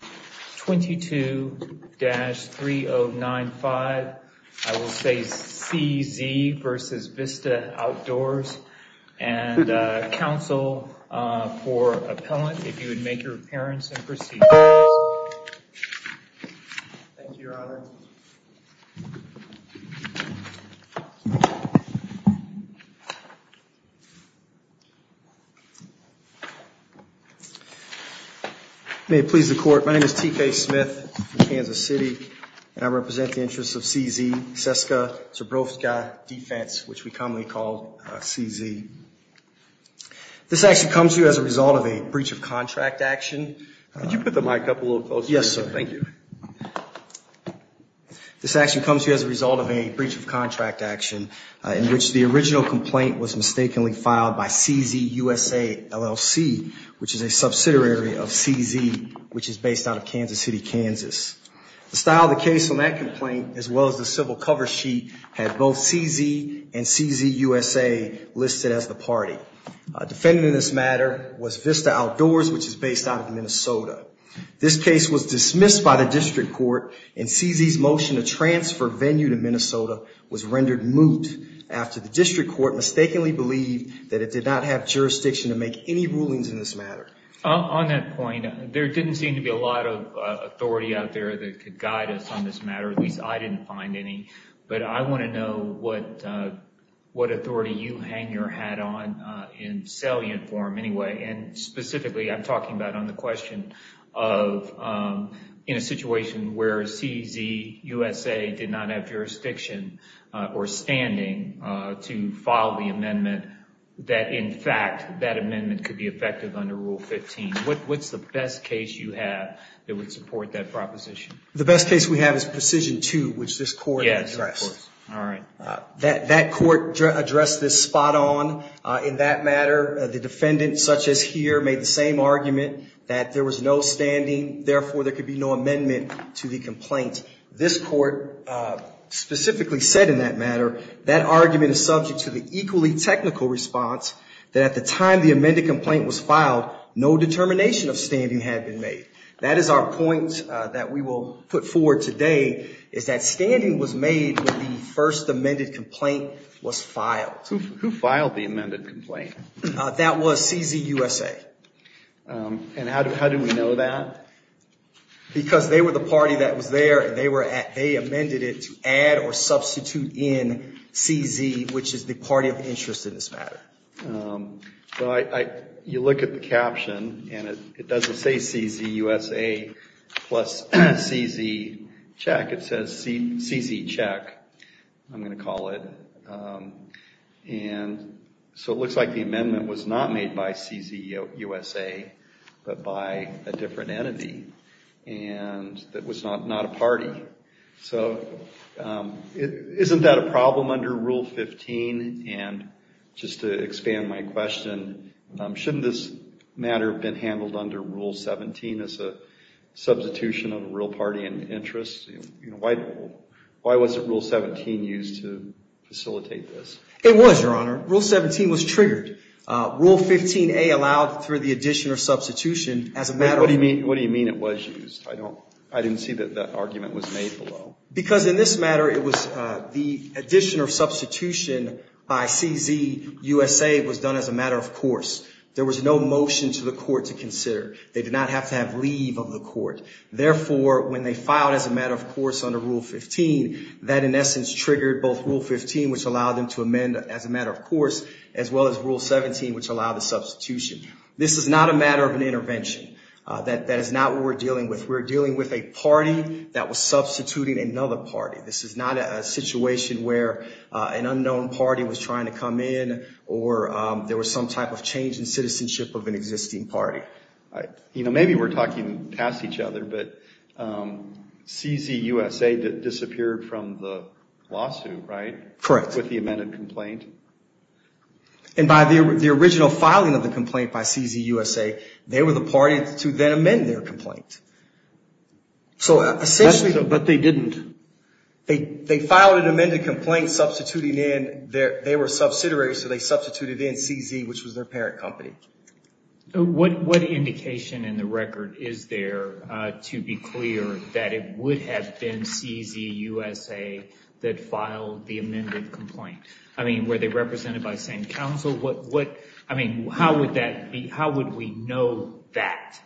22-3095 I will say CZ versus Vista Outdoors and counsel for appellant if my name is T.K. Smith from Kansas City and I represent the interests of CZ, SESKA Zbrojovka Defense, which we commonly call CZ. This action comes to you as a result of a breach of contract action. Could you put the mic up a little closer? Yes, sir. Thank you. This action comes to you as a result of a breach of contract action in which the original complaint was based out of Kansas City, Kansas. The style of the case on that complaint as well as the civil cover sheet had both CZ and CZ USA listed as the party. Defending this matter was Vista Outdoors, which is based out of Minnesota. This case was dismissed by the district court and CZ's motion to transfer venue to Minnesota was rendered moot after the district court mistakenly believed that it did not have jurisdiction to make any rulings in this matter. On that point, there didn't seem to be a lot of authority out there that could guide us on this matter, at least I didn't find any, but I want to know what authority you hang your hat on in salient form anyway and specifically I'm talking about on the question of in a situation where CZ USA did not have jurisdiction or standing to file the amendment that in fact that amendment could be effective under Rule 15. What's the best case you have that would support that proposition? The best case we have is Precision 2, which this court addressed. That court addressed this spot on. In that matter, the defendant, such as here, made the same argument that there was no standing, therefore there could be no amendment to the complaint. This court specifically said in that matter that that argument is subject to the equally technical response that at the time the amended complaint was filed, no determination of standing had been made. That is our point that we will put forward today is that standing was made when the first amended complaint was filed. Who filed the amended complaint? That was CZ USA. And how do we know that? Because they were the party that was there and they amended it to add or substitute in CZ, which is the party of interest in this matter. You look at the caption and it doesn't say CZ USA plus CZ check. It says CZ check, I'm going to call it. And so it looks like the amendment was not made by CZ USA, but by a different entity and that was not a party. So isn't that a problem under Rule 15? And just to expand my question, shouldn't this matter have been handled under Rule 17 as a substitution of a real party in interest? Why wasn't Rule 17 used to facilitate this? It was, Your Honor. Rule 17 was triggered. Rule 15A allowed for the addition or substitution as a matter of... What do you mean it was used? I didn't see that that argument was made below. Because in this matter it was the addition or substitution by CZ USA was done as a matter of course. There was no motion to the court to consider. They did not have to have leave of the court. Therefore, when they filed as a matter of course under Rule 15, that in essence triggered both Rule 15, which allowed them to amend as a matter of course, as well as Rule 17, which allowed the substitution. This is not a matter of an intervention. That is not what we're dealing with. We're dealing with a party that was substituting another party. This is not a situation where an unknown party was trying to come in or there was some type of change in citizenship of an existing party. Maybe we're talking past each other, but CZ USA disappeared from the lawsuit, right? Correct. With the amended complaint? By the original filing of the complaint by CZ USA, they were the party to then amend their complaint. But they didn't. They filed an amended complaint substituting in... They were subsidiaries, so they substituted in CZ, which was their parent company. What indication in the record is there to be clear that it would have been CZ USA that filed the amended complaint? I mean, were they represented by the same council? How would we know that?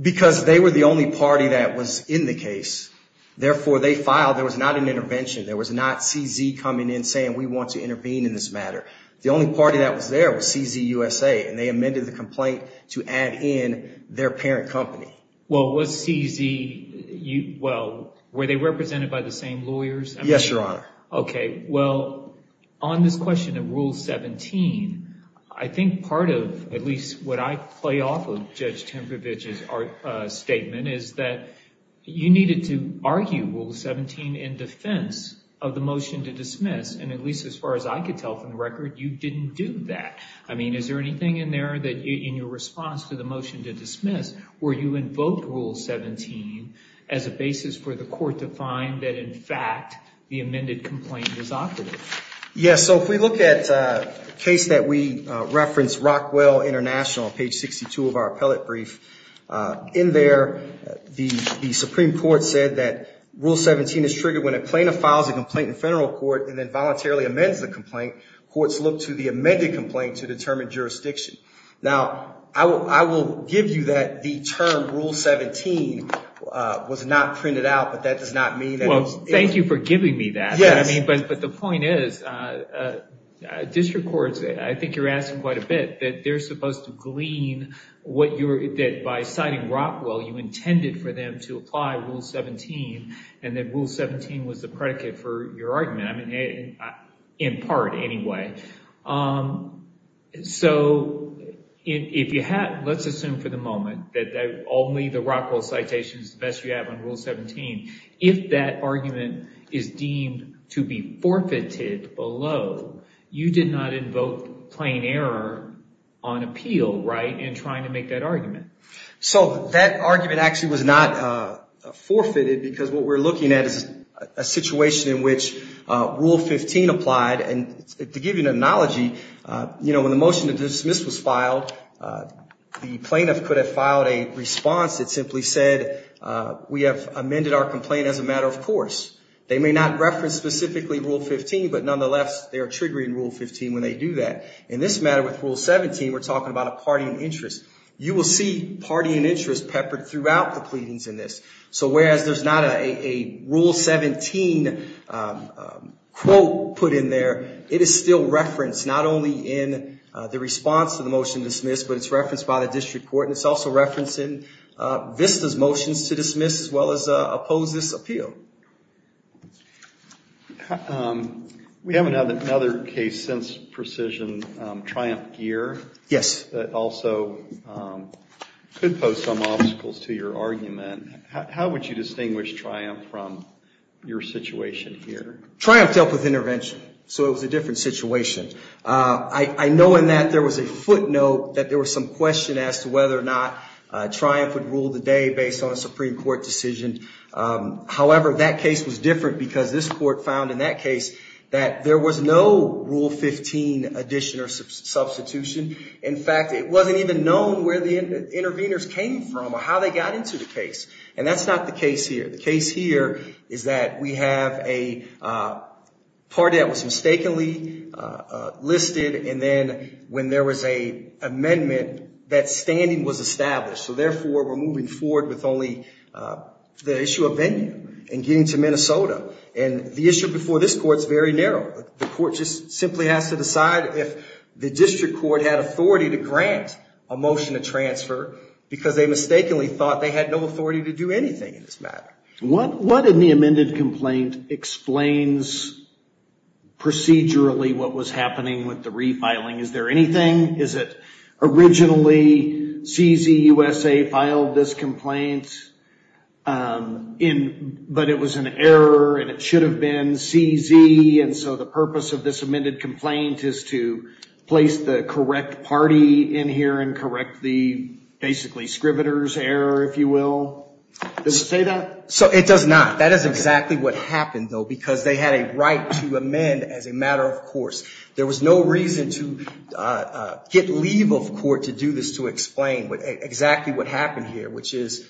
Because they were the only party that was in the case. Therefore, they filed. There was not an intervention. There was not CZ coming in saying, we want to intervene in this matter. The only party that was there was CZ USA, and they amended the complaint to add in their parent company. Well, was CZ... Well, were they represented by the same lawyers? Yes, Your Honor. Okay. Well, on this question of Rule 17, I think part of, at least what I play off of Judge Temprovich's statement is that you needed to argue Rule 17 in defense of the motion to dismiss. At least as far as I could tell from the record, you didn't do that. I mean, is there anything in there in your response to the motion to dismiss where you invoked Rule 17 as a basis for the court to find that, in fact, the amended complaint is operative? Yes. If we look at a case that we referenced, Rockwell International, page 62 of our appellate brief. In there, the Supreme Court said that Rule 17 is triggered when a plaintiff files a complaint in federal court and then voluntarily amends the complaint. Courts look to the amended complaint to determine jurisdiction. Now, I will give you that the term Rule 17 was not printed out, but that does not mean that it was... Well, thank you for giving me that. But the point is, district courts, I think you're asking quite a bit, that they're supposed to glean what you're... That by citing Rockwell, you intended for them to apply Rule 17, and that Rule 17 was the predicate for your argument. I mean, in part, anyway. So, let's assume for the moment that only the Rockwell citation is the best you have on Rule 17. If that argument is deemed to be forfeited below, you did not invoke plain error on appeal, right, in trying to make that argument. So, that argument actually was not forfeited because what we're looking at is a situation in which Rule 15 applied. And to give you an analogy, when the motion to dismiss was filed, the plaintiff could have filed a response that simply said, we have amended our complaint as a matter of course. They may not reference specifically Rule 15, but nonetheless, they are triggering Rule 15 when they do that. In this matter with party and interest, you will see party and interest peppered throughout the pleadings in this. So, whereas there's not a Rule 17 quote put in there, it is still referenced not only in the response to the motion to dismiss, but it's referenced by the district court, and it's also referenced in VISTA's motions to dismiss as well as oppose this appeal. We haven't had another case since Precision, Triumph-Gear. Yes. That also could pose some obstacles to your argument. How would you distinguish Triumph from your situation here? Triumph dealt with intervention, so it was a different situation. I know in that there was a footnote that there was some question as to whether or not Triumph would rule the day based on a Supreme Court decision. However, that case was different because this court found in that case that there was no Rule 15 addition or substitution. In fact, it wasn't even known where the interveners came from or how they got into the case, and that's not the case here. The case here is that we have a party that was mistakenly listed, and then when there was an amendment, it was established. Therefore, we're moving forward with only the issue of venue and getting to Minnesota. The issue before this court is very narrow. The court just simply has to decide if the district court had authority to grant a motion to transfer because they mistakenly thought they had no authority to do anything in this matter. What in the amended complaint explains procedurally what was happening with the refiling? Is there anything? Is it originally CZUSA filed this complaint, but it was an error and it should have been CZ, and so the purpose of this amended complaint is to place the correct party in here and correct the basically scrivener's error, if you will? Does it say that? So it does not. That is exactly what happened, though, because they had a right to amend as a get leave of court to do this to explain exactly what happened here, which is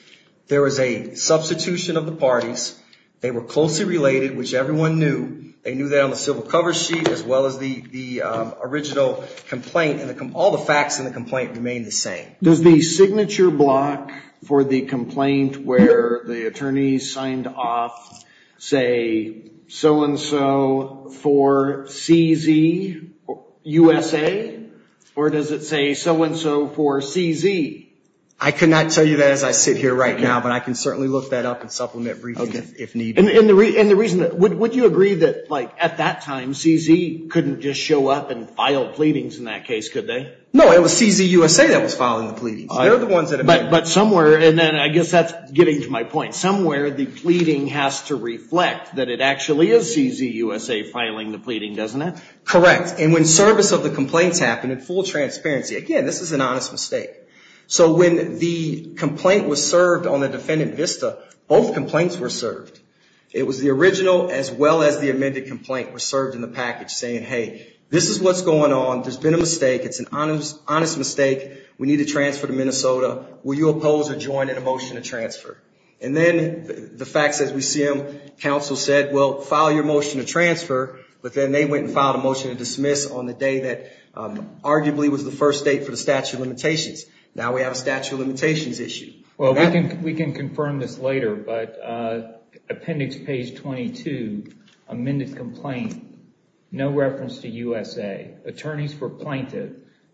there was a substitution of the parties. They were closely related, which everyone knew. They knew that on the civil cover sheet as well as the original complaint, and all the facts in the complaint remained the same. Does the signature block for the complaint where the attorney signed off, say so-and-so for CZUSA, or does it say so-and-so for CZ? I could not tell you that as I sit here right now, but I can certainly look that up and supplement briefing if needed. Would you agree that at that time CZ couldn't just show up and file pleadings in that case, could they? No, it was CZUSA that was filing the pleadings. They're the ones that amended. But somewhere, and then I guess that's getting to my point, somewhere the pleading has to reflect that it actually is CZUSA filing the pleading, doesn't it? Correct. And when service of the complaints happened in full transparency, again, this is an honest mistake. So when the complaint was served on the defendant VISTA, both complaints were served. It was the original as well as the amended complaint were served in the package saying, hey, this is what's going on. There's been a mistake. It's an honest mistake. We need to transfer to Minnesota. Will you oppose or join in a motion to transfer? And then the facts as we see them, counsel said, well, file your motion to transfer, but then they went and filed a motion to dismiss on the day that arguably was the first date for the statute of limitations. Now we have a statute of limitations issue. Well, we can confirm this later, but appendix page 22, amended complaint, no reference to USA, attorneys for plaintiff,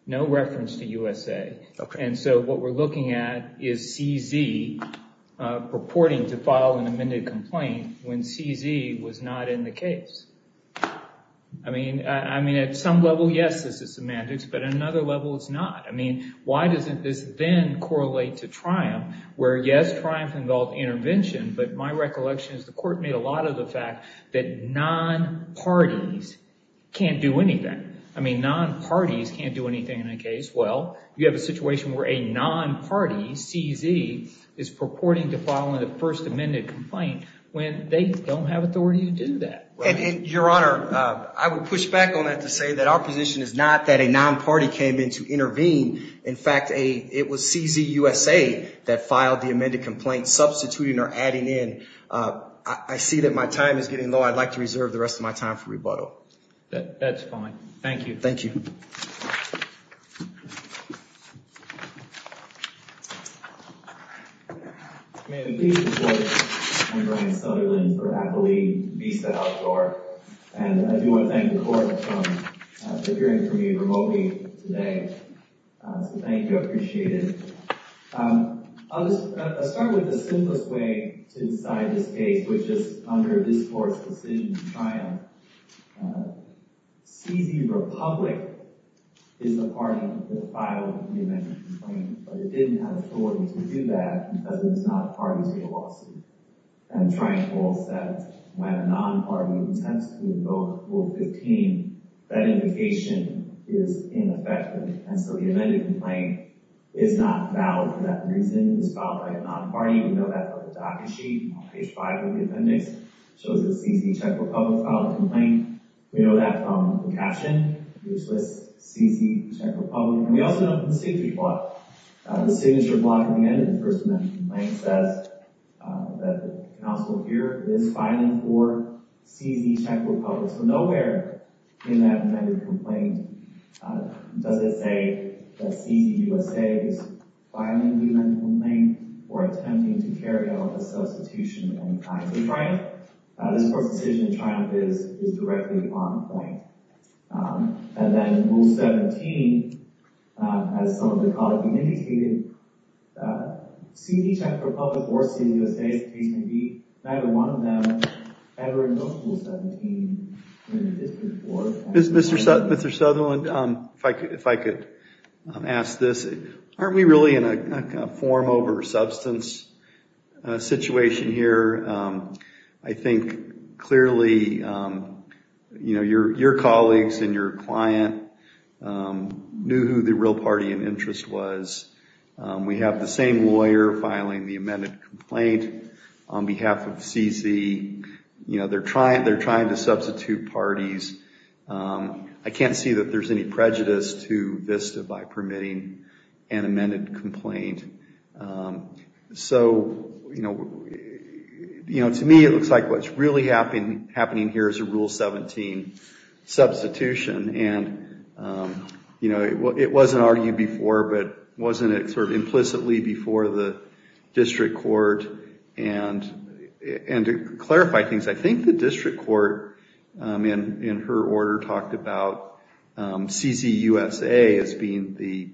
no reference to USA. And so what we're looking at is CZ reporting to file an amended complaint when CZ was not in the case. I mean, I mean, at some level, yes, this is semantics, but another level it's not. I mean, why doesn't this then correlate to Triumph where yes, Triumph involved intervention, but my recollection is the court made a lot of the fact that non-parties can't do anything. I mean, non-parties can't do anything in a case. Well, you have a situation where a non-party CZ is purporting to file in the first amended complaint when they don't have authority to do that. And your honor, I would push back on that to say that our position is not that a non-party came in to intervene. In fact, it was CZ USA that filed the amended complaint substituting or adding in. I see that my time is getting low. I'd like to reserve the rest of my time for rebuttal. That's fine. Thank you. Thank you. Thank you. I appreciate it. I'll just start with the simplest way to decide this case, which is under this court's decision in Triumph. CZ Republic is the party that filed the amended complaint, but it didn't have authority to do that because it was not a party to the lawsuit. And Triumph rules that when a non-party attempts to invoke Rule 15, that implication is ineffective. And so the amended complaint is not valid for that reason. It was filed by a non-party. We know that from the appendix. It shows that CZ Czech Republic filed a complaint. We know that from the caption, which lists CZ Czech Republic. And we also know from the signature block. The signature block at the end of the first amended complaint says that the counsel here is filing for CZ Czech Republic. So nowhere in that amended complaint does it say that CZ USA is filing the amended complaint or attempting to carry out a substitution of any kind to Triumph. This court's decision in Triumph is directly on complaint. And then Rule 17, as some of the colleagues indicated, CZ Czech Republic or CZ USA's case may be neither one of them ever invoked Rule 17. Mr. Sutherland, if I could ask this, aren't we really in a form over substance situation here? I think clearly, you know, your colleagues and your client knew who the real party in interest was. We have the same lawyer filing the amended complaint on behalf of CZ. You know, they're trying to substitute parties. I can't see that there's any prejudice to VISTA by permitting an amended complaint. So, you know, to me, it looks like what's really happening here is a Rule 17 substitution. And, you know, it wasn't argued before, but wasn't it sort of implicitly before the court? And to clarify things, I think the district court, in her order, talked about CZ USA as being the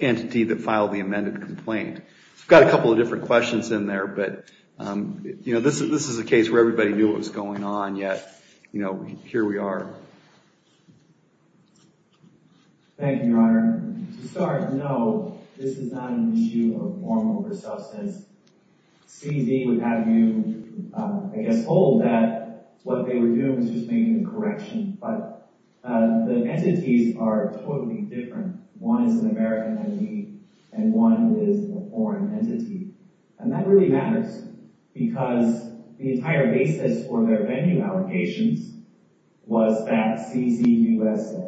entity that filed the amended complaint. I've got a couple of different questions in there, but, you know, this is a case where everybody knew what was going on, yet, you know, here we are. Thank you, Your Honor. To start, no, this is not an issue of formal substance. CZ would have you, I guess, hold that what they were doing was just making a correction, but the entities are totally different. One is an American entity, and one is a foreign entity. And that really matters, because the entire basis for their venue allegations was that CZ USA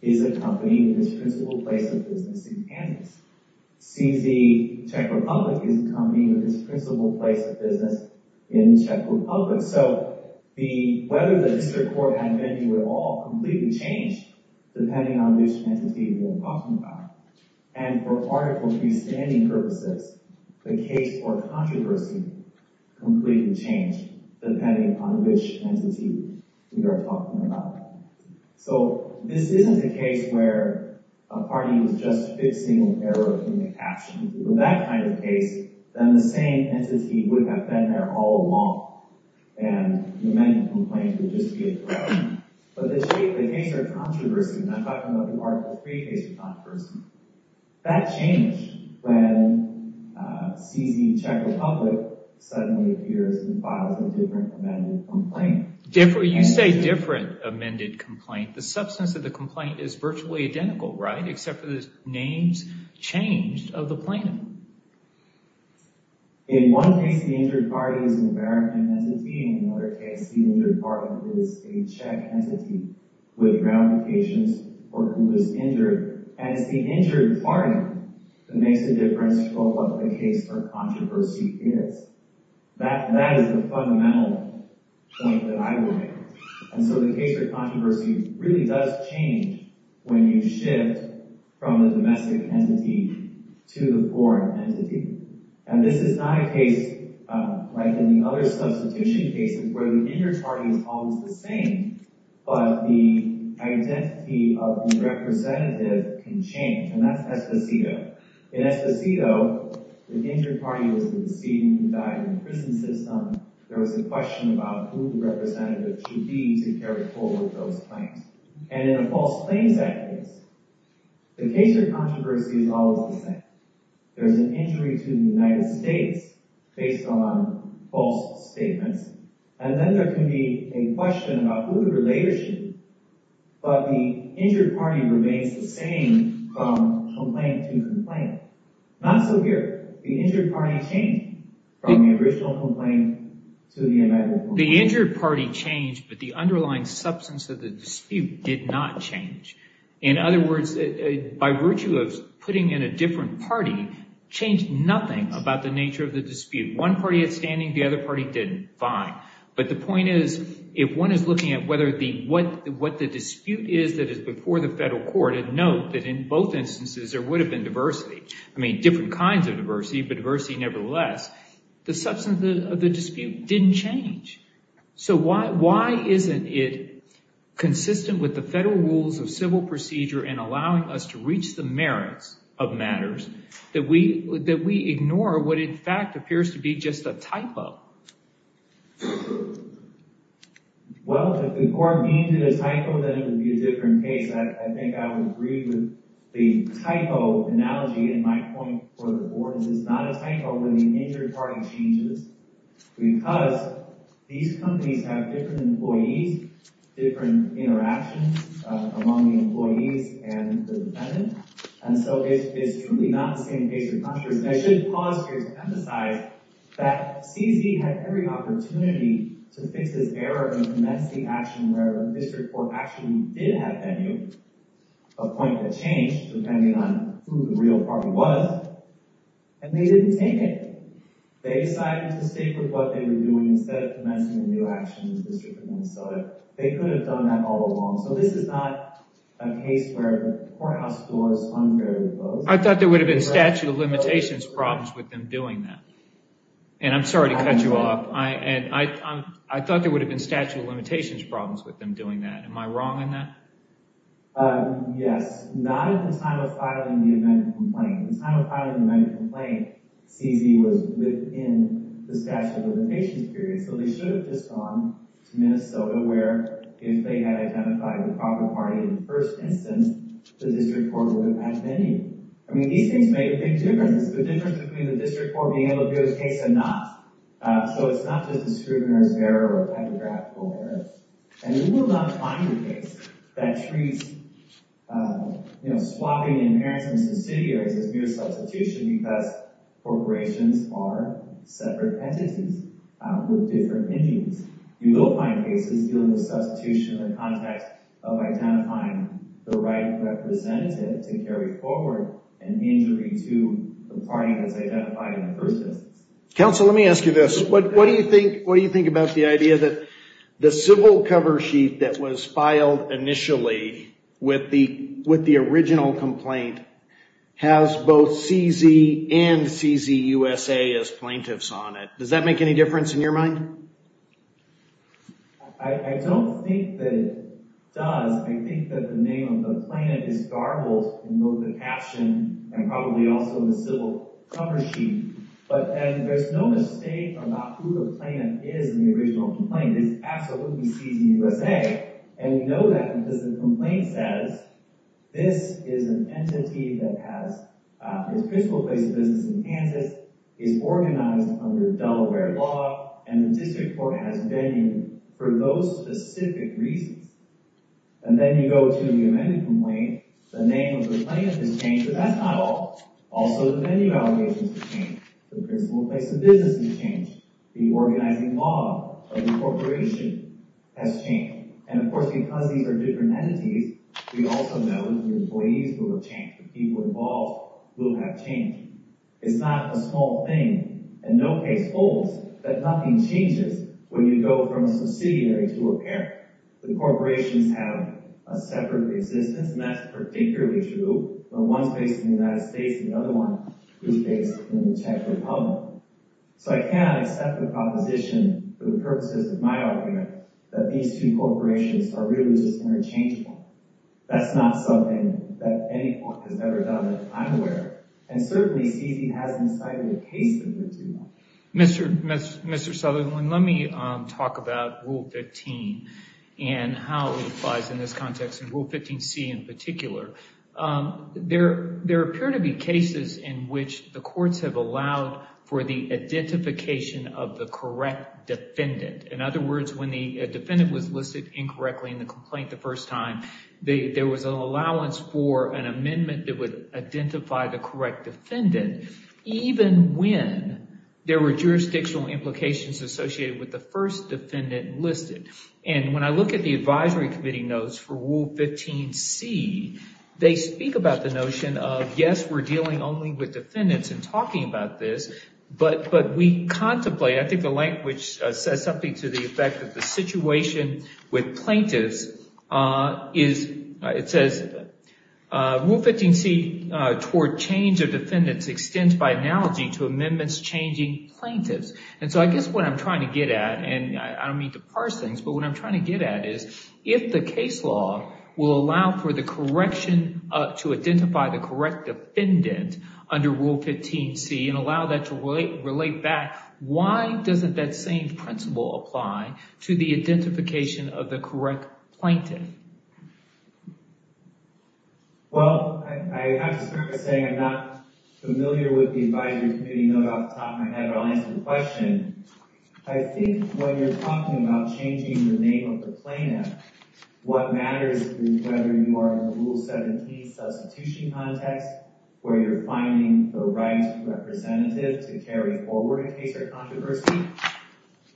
is a company with its principal place of business in Kansas. CZ Czech Republic is a company with its principal place of business in Czech Republic. So, whether the district court had a venue at all completely changed depending on which entity we're talking about. And for article 3 standing purposes, the case for controversy completely changed depending on which entity we are talking about. So, this isn't a case where a party was just fixing an error in the caption. With that kind of case, then the same entity would have been there all along, and the amended complaint would just be a correction. But the case for controversy, and I'm talking about the article 3 case, but not the first one, that changed when CZ Czech Republic suddenly appears and files a different amended complaint. The substance of the complaint is virtually identical, right? Except for the names changed of the plaintiff. In one case, the injured party is an American entity. In another case, the injured party is a Czech entity with ramifications for who was injured. And it's the injured party that makes the difference for what the case for controversy is. That is the fundamental point that I would make. And so the case for controversy really does change when you shift from the domestic entity to the foreign entity. And this is not a case like in the other substitution cases where the injured party is always the same, but the identity of the representative can change. And that's Esposito. In Esposito, the injured party was the decedent who died in the prison system. There was a question about who the representative should be to carry forward those claims. And in a false claims act case, the case for controversy is always the same. There's an injury to the United States based on false statements. And then there can be a question about who the relator should be. But the injured party remains the same from complaint to complaint. Not so here. The injured party changed from the original complaint to the indictment. The injured party changed, but the underlying substance of the dispute did not change. In other words, by virtue of putting in a different party, changed nothing about the nature of the dispute. One party is standing, the other party didn't. Fine. But the point is, if one is looking at what the dispute is that is before the federal court, and note that in both instances, there would have been diversity, I mean, different kinds of diversity, but diversity, nevertheless, the substance of the dispute didn't change. So why isn't it consistent with the federal rules of civil procedure and allowing us to reach the merits of matters that we ignore what in fact appears to be just a typo? Well, if the court deemed it a typo, then it would be a different case. I think I would agree with the typo analogy in my point for the board. It's not a typo when the injured party changes, because these companies have different employees, different interactions among the employees and the defendant. And so it's truly not the same case across countries. And I should pause here to emphasize that CZ had every opportunity to fix this error and commence the action where the district court actually did have venue, a point that changed depending on who the real party was, and they didn't take it. They decided to stick with what they were doing instead of commencing a new action in the district of Minnesota. They could have done that all along. So this is not a case where the courthouse door is unfairly closed. I thought there would have been statute of limitations problems with them doing that. And I'm sorry to cut you off. I thought there would have been statute of limitations problems with them doing that. Am I wrong on that? Yes, not at the time of filing the amendment complaint. At the time of filing the amendment complaint, CZ was within the statute of limitations period. So they should have just gone to Minnesota where if they had identified the proper party in the first instance, the district court would have had venue. I mean, these things made a big difference. The difference between the district court being able to do a case or not. So it's not just a scrutinized error or a typographical error. And you will not find a case that treats, you know, swapping in parents and subsidiaries as mere substitution because corporations are separate entities with different engines. You will find cases dealing with substitution in the context of identifying the right representative to carry forward an injury to the party that's identified in the first instance. Counsel, let me ask you this. What do you think about the idea that the civil cover sheet that was filed initially with the original complaint has both CZ and CZUSA as plaintiffs on it? Does that make any difference in your mind? I don't think that it does. I think that the name of the plaintiff is garbled in both the caption and probably also in the civil cover sheet. But there's no mistake about who the plaintiff is in the original complaint. It's absolutely CZUSA. And we know that because the complaint says this is an entity that has its principal place of business in Kansas, is organized under Delaware law, and the district court has venue for those specific reasons. And then you go to the amended complaint, the name of the plaintiff has changed, but that's not all. Also the venue allegations have changed, the principal place of business has changed, the organizing law of the corporation has changed. And of course because these are different entities, we also know that the employees will have changed, the people involved will have changed. It's not a small thing and no case holds that nothing changes when you go from a subsidiary to a parent. The corporations have a separate existence and that's particularly true when one's based in the United States and the other one is based in the Czech Republic. So I cannot accept the proposition for the purposes of my argument that these two corporations are really just interchangeable. That's not something that any court has ever done, I'm aware, and certainly CEC hasn't cited a case in particular. Mr. Sutherland, let me talk about Rule 15 and how it applies in this context, and Rule 15c in particular. There appear to be cases in which the courts have allowed for the identification of the correct defendant. In other words, when the defendant was listed incorrectly in the complaint the first time, there was an allowance for an amendment that would identify the correct defendant, even when there were jurisdictional implications associated with the first defendant listed. And when I look at the advisory committee notes for Rule 15c, they speak about the notion of, yes, we're dealing only with defendants and talking about this, but we contemplate, I think the effect of the situation with plaintiffs is, it says, Rule 15c toward change of defendants extends by analogy to amendments changing plaintiffs. And so I guess what I'm trying to get at, and I don't mean to parse things, but what I'm trying to get at is if the case law will allow for the correction to identify the correct defendant under Rule 15c and allow that to relate back, why doesn't that same principle apply to the identification of the correct plaintiff? Well, I have to start by saying I'm not familiar with the advisory committee note off the top of my head, but I'll answer the question. I think when you're talking about changing the name of the plaintiff, what matters is whether you are in the Rule 17 substitution context, where you're finding the right representative to carry forward a case or controversy,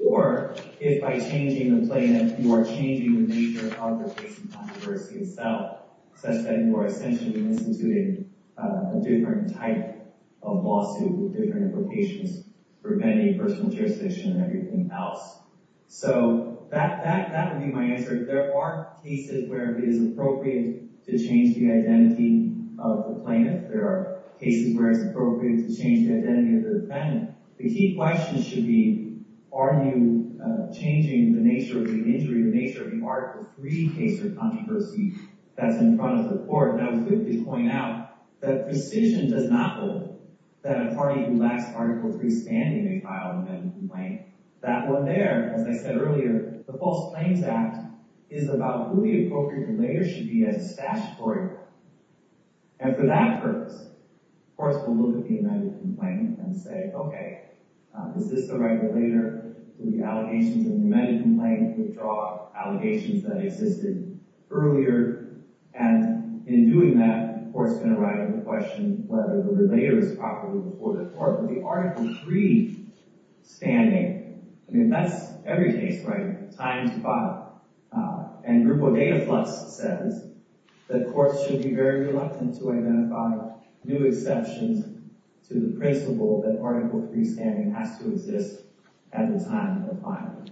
or if by changing the plaintiff, you are changing the nature of the case and controversy itself, such that you are essentially instituting a different type of lawsuit with different implications preventing personal jurisdiction and everything else. So that would be my answer. If there are cases where it is appropriate to change the identity of the plaintiff, there are cases where it's appropriate to change the identity of the defendant, the key question should be, are you changing the nature of the injury, the nature of the Article 3 case or controversy that's in front of the court? And I would quickly point out that precision does not hold that a party who lacks Article 3 standing may file an amendment complaint. That one there, as I said earlier, the False Claims Act is about who the appropriate relater should be as a statutory and for that purpose, courts will look at the amended complaint and say, okay, is this the right relater? Do the allegations of the amended complaint withdraw allegations that existed earlier? And in doing that, the court's going to write in the question whether the relater is properly reported to court with the Article 3 standing. I mean, that's every case, right? Times five. And Grupo Dataflux says that courts should be very reluctant to identify new exceptions to the principle that Article 3 standing has to exist at the time of filing.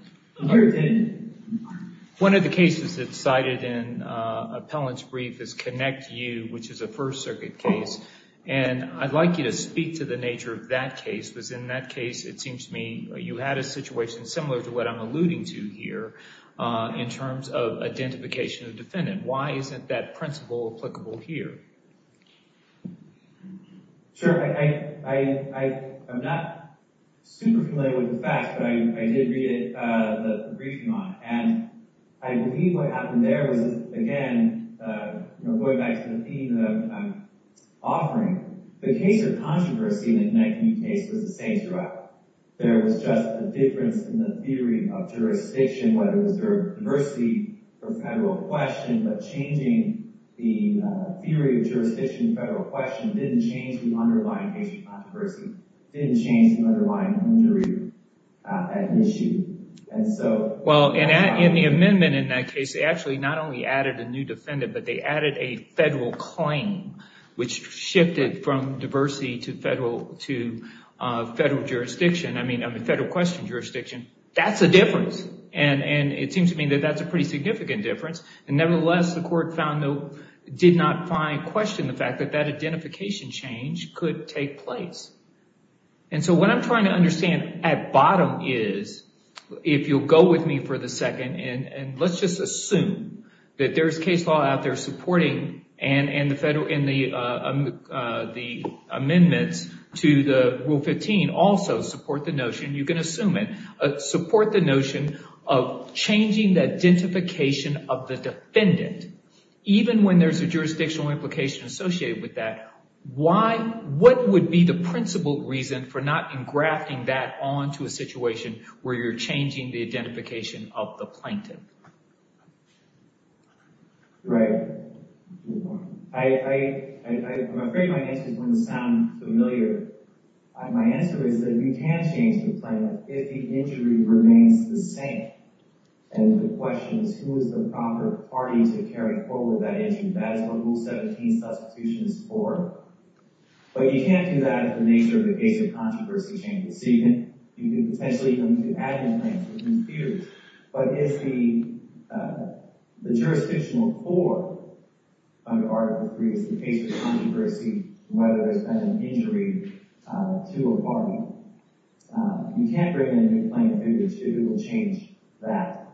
One of the cases that's cited in Appellant's brief is ConnectU, which is a First Circuit case. And I'd like you to speak to the nature of that case, because in that case, it seems to me you had a situation similar to what I'm alluding to here, in terms of identification of defendant. Why isn't that principle applicable here? Sure. I'm not super familiar with the facts, but I did read the briefing on it. And I believe what happened there was, again, going back to the theme that I'm offering, the case of controversy in the ConnectU case was the same throughout. There was just a difference in the theory of jurisdiction, whether it was diversity or federal question, but changing the theory of jurisdiction and federal question didn't change the underlying case of controversy, didn't change the underlying theory of that issue. Well, in the amendment in that case, they actually not only added a new defendant, but they added a federal claim, which shifted from diversity to federal question jurisdiction. That's a difference. And it seems to me that that's a pretty significant difference. And nevertheless, the court did not question the fact that that identification change could take place. And so what I'm trying to understand at bottom is, if you'll go with me for the second, and let's just assume that there's case law out there supporting, and the amendments to the Rule 15 also support the notion, you can assume it, support the notion of changing the identification of the defendant, even when there's a jurisdictional implication associated with that, why, what would be the principal reason for not engrafting that onto a situation where you're changing the identification of the plaintiff? Right. I'm afraid my answers wouldn't sound familiar. My answer is that you can change the plaintiff if the injury remains the same. And the question is, who is the proper party to carry forward that injury? That is what Rule 17 substitution is for. But you can't do that at the nature of the case of controversy changes. So you can potentially even add new claims, but it's the jurisdictional core under Article 3, it's the case of controversy, whether there's been an injury to a party. You can't bring in a new plaintiff if it will change that.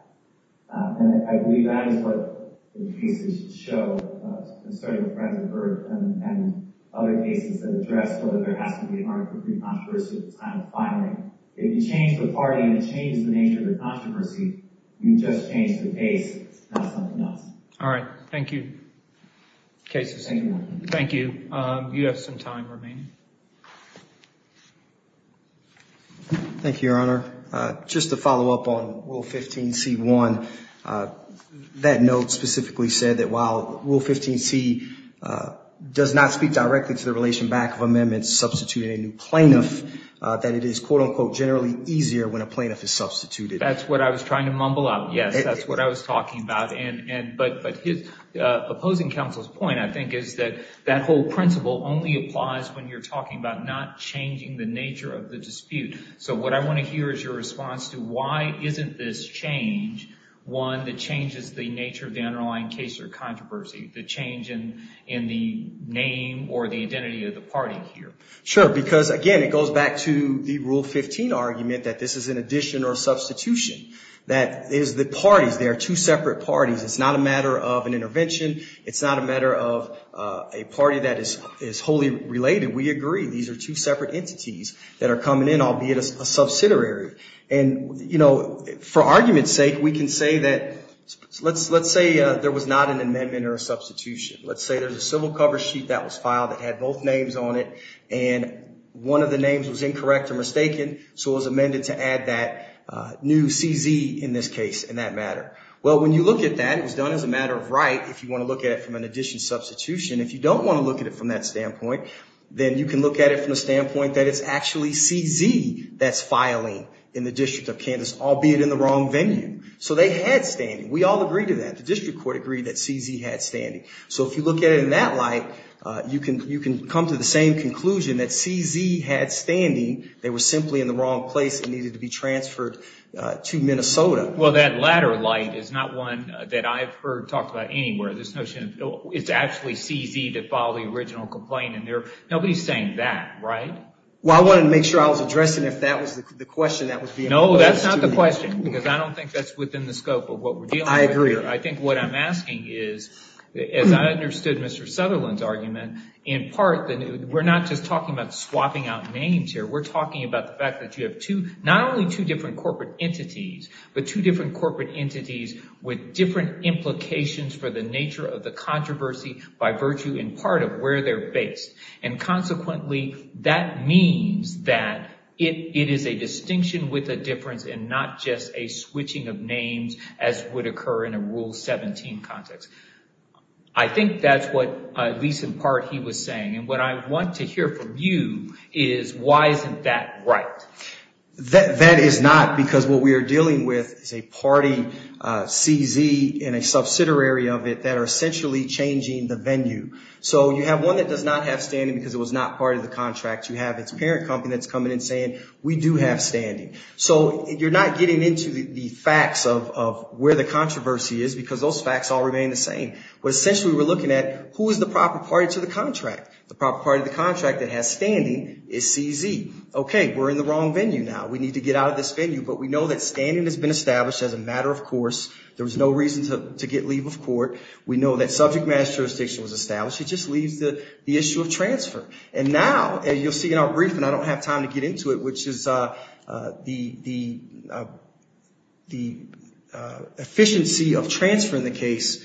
And I believe that is what cases show, starting with Friends of Earth and other cases that address whether there has to be an Article 3 controversy at the time of filing. If you change the party and you change the nature of the controversy, you've just changed the case, it's not something else. All right. Thank you. Thank you. You have some time remaining. Thank you, Your Honor. Just to follow up on Rule 15c1, that note specifically said that while Rule 15c does not speak directly to the relation back of amendments substituting a new plaintiff, that it is quote unquote generally easier when a plaintiff is substituted. That's what I was trying to mumble out. Yes, that's what I was talking about. But opposing counsel's point, I think, is that that whole principle only applies when you're talking about not changing the nature of the dispute. So what I want to hear is your response to why isn't this change one that changes the nature of the underlying case or controversy, the change in the name or the identity of the party here? Sure. Because again, it goes back to the Rule 15 argument that this is an addition or substitution. That is the parties, they are two separate parties. It's not a matter of an intervention. It's not a matter of a party that is wholly related. We agree. These are two separate entities that are coming in, albeit a subsidiary. And for argument's sake, we can say that, let's say there was not an amendment or a substitution. Let's say there's a civil cover sheet that was filed that had both names on it, and one of the names was incorrect or mistaken, so it was amended to add that new CZ in this case, in that matter. Well, when you look at that, it was done as a matter of right, if you want to look at it from an addition substitution. If you don't want to look at it from that standpoint, then you can look at it from the standpoint that it's actually CZ that's filing in the District of Kansas, albeit in the wrong venue. So they had standing. We all agree to that. The District Court agreed that CZ had standing. So if you look at it in that light, you can come to the same conclusion that CZ had standing. They were simply in the wrong place and needed to be transferred to the District of Kansas. So that's why I'm saying that that's not one that I've heard talked about anywhere. This notion of it's actually CZ that filed the original complaint in there. Nobody's saying that, right? Well, I wanted to make sure I was addressing if that was the question that was being posed to me. No, that's not the question, because I don't think that's within the scope of what we're dealing with here. I agree. I think what I'm asking is, as I understood Mr. Sutherland's argument, in part, we're not just talking about swapping out names here. We're talking about the fact that you have not only two different corporate entities, but two different corporate entities with different implications for the nature of the controversy by virtue in part of where they're based. And consequently, that means that it is a distinction with a difference and not just a switching of names as would occur in a Rule 17 context. I think that's what, at least in part, he was saying. And what I want to hear from you is why isn't that right? That is not, because what we are dealing with is a party, CZ, and a subsidiary of it that are essentially changing the venue. So you have one that does not have standing because it was not part of the contract. You have its parent company that's coming in saying, we do have standing. So you're not getting into the facts of where the controversy is, because those facts all remain the same. What essentially we're looking at, who is the proper party to the contract? The proper contract that has standing is CZ. Okay, we're in the wrong venue now. We need to get out of this venue, but we know that standing has been established as a matter of course. There was no reason to get leave of court. We know that subject matter jurisdiction was established. It just leaves the issue of transfer. And now, as you'll see in our briefing, I don't have time to get into it, which is the efficiency of transfer in the case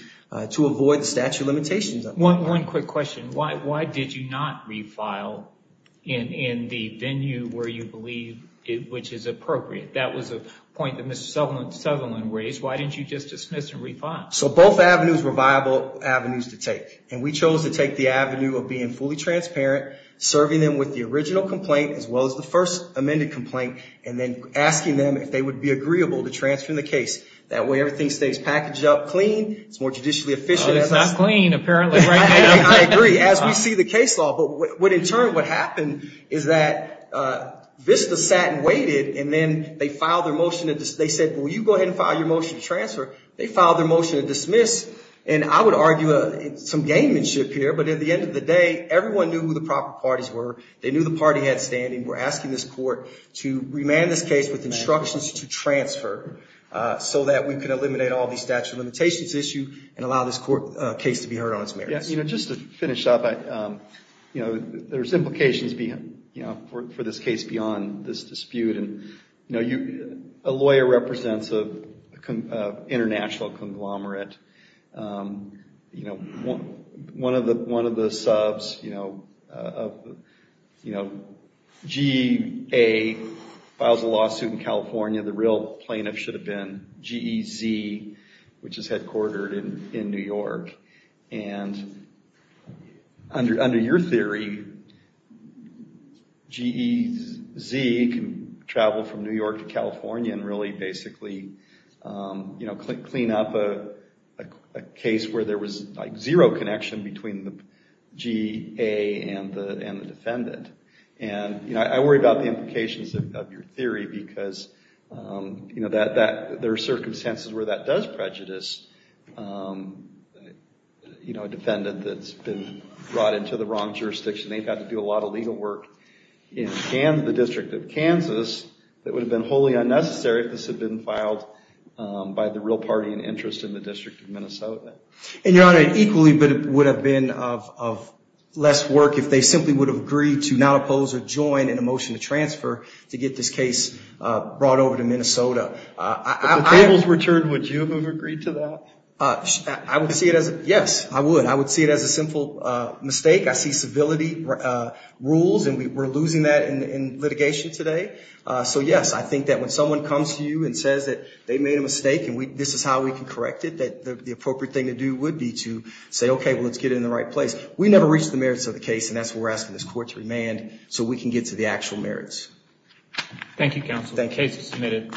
to avoid the statute of limitations. One quick question. Why did you not refile in the venue where you believe which is appropriate? That was a point that Mr. Sutherland raised. Why didn't you just dismiss and refile? So both avenues were viable avenues to take. And we chose to take the avenue of being fully transparent, serving them with the original complaint as well as the first amended complaint, and then asking them if they would be agreeable to transferring the case. That way everything stays packaged up clean. It's more judicially efficient. It's not clean apparently right now. I agree, as we see the case law. But in turn, what happened is that VISTA sat and waited, and then they said, well, you go ahead and file your motion to transfer. They filed their motion to dismiss. And I would argue some gamemanship here, but at the end of the day, everyone knew who the proper parties were. They knew the party had standing. We're asking this court to remand this case with instructions to transfer so that we can eliminate all these statute of limitations issues and allow this court case to be heard on its merits. Just to finish up, there's implications for this case beyond this dispute. A lawyer represents an international conglomerate. One of the subs, GEA, files a lawsuit in California. The real plaintiff should have been GEZ, which is headquartered in New York. And under your theory, GEZ can travel from New York to California and really basically clean up a case where there was zero connection between the GEA and the defendant. And I worry about the implications of your theory because there are circumstances where that does prejudice a defendant that's been brought into the wrong would have been wholly unnecessary if this had been filed by the real party in interest in the district of Minnesota. And your Honor, equally, it would have been of less work if they simply would have agreed to not oppose or join in a motion to transfer to get this case brought over to Minnesota. If the tables were turned, would you have agreed to that? Yes, I would. I would see it as a simple mistake. I see civility rules, and we're losing that in litigation today. So yes, I think that when someone comes to you and says that they made a mistake, and this is how we can correct it, that the appropriate thing to do would be to say, okay, well, let's get it in the right place. We never reach the merits of the case, and that's why we're asking this court to remand so we can get to the actual merits. Thank you, counsel. The case is submitted.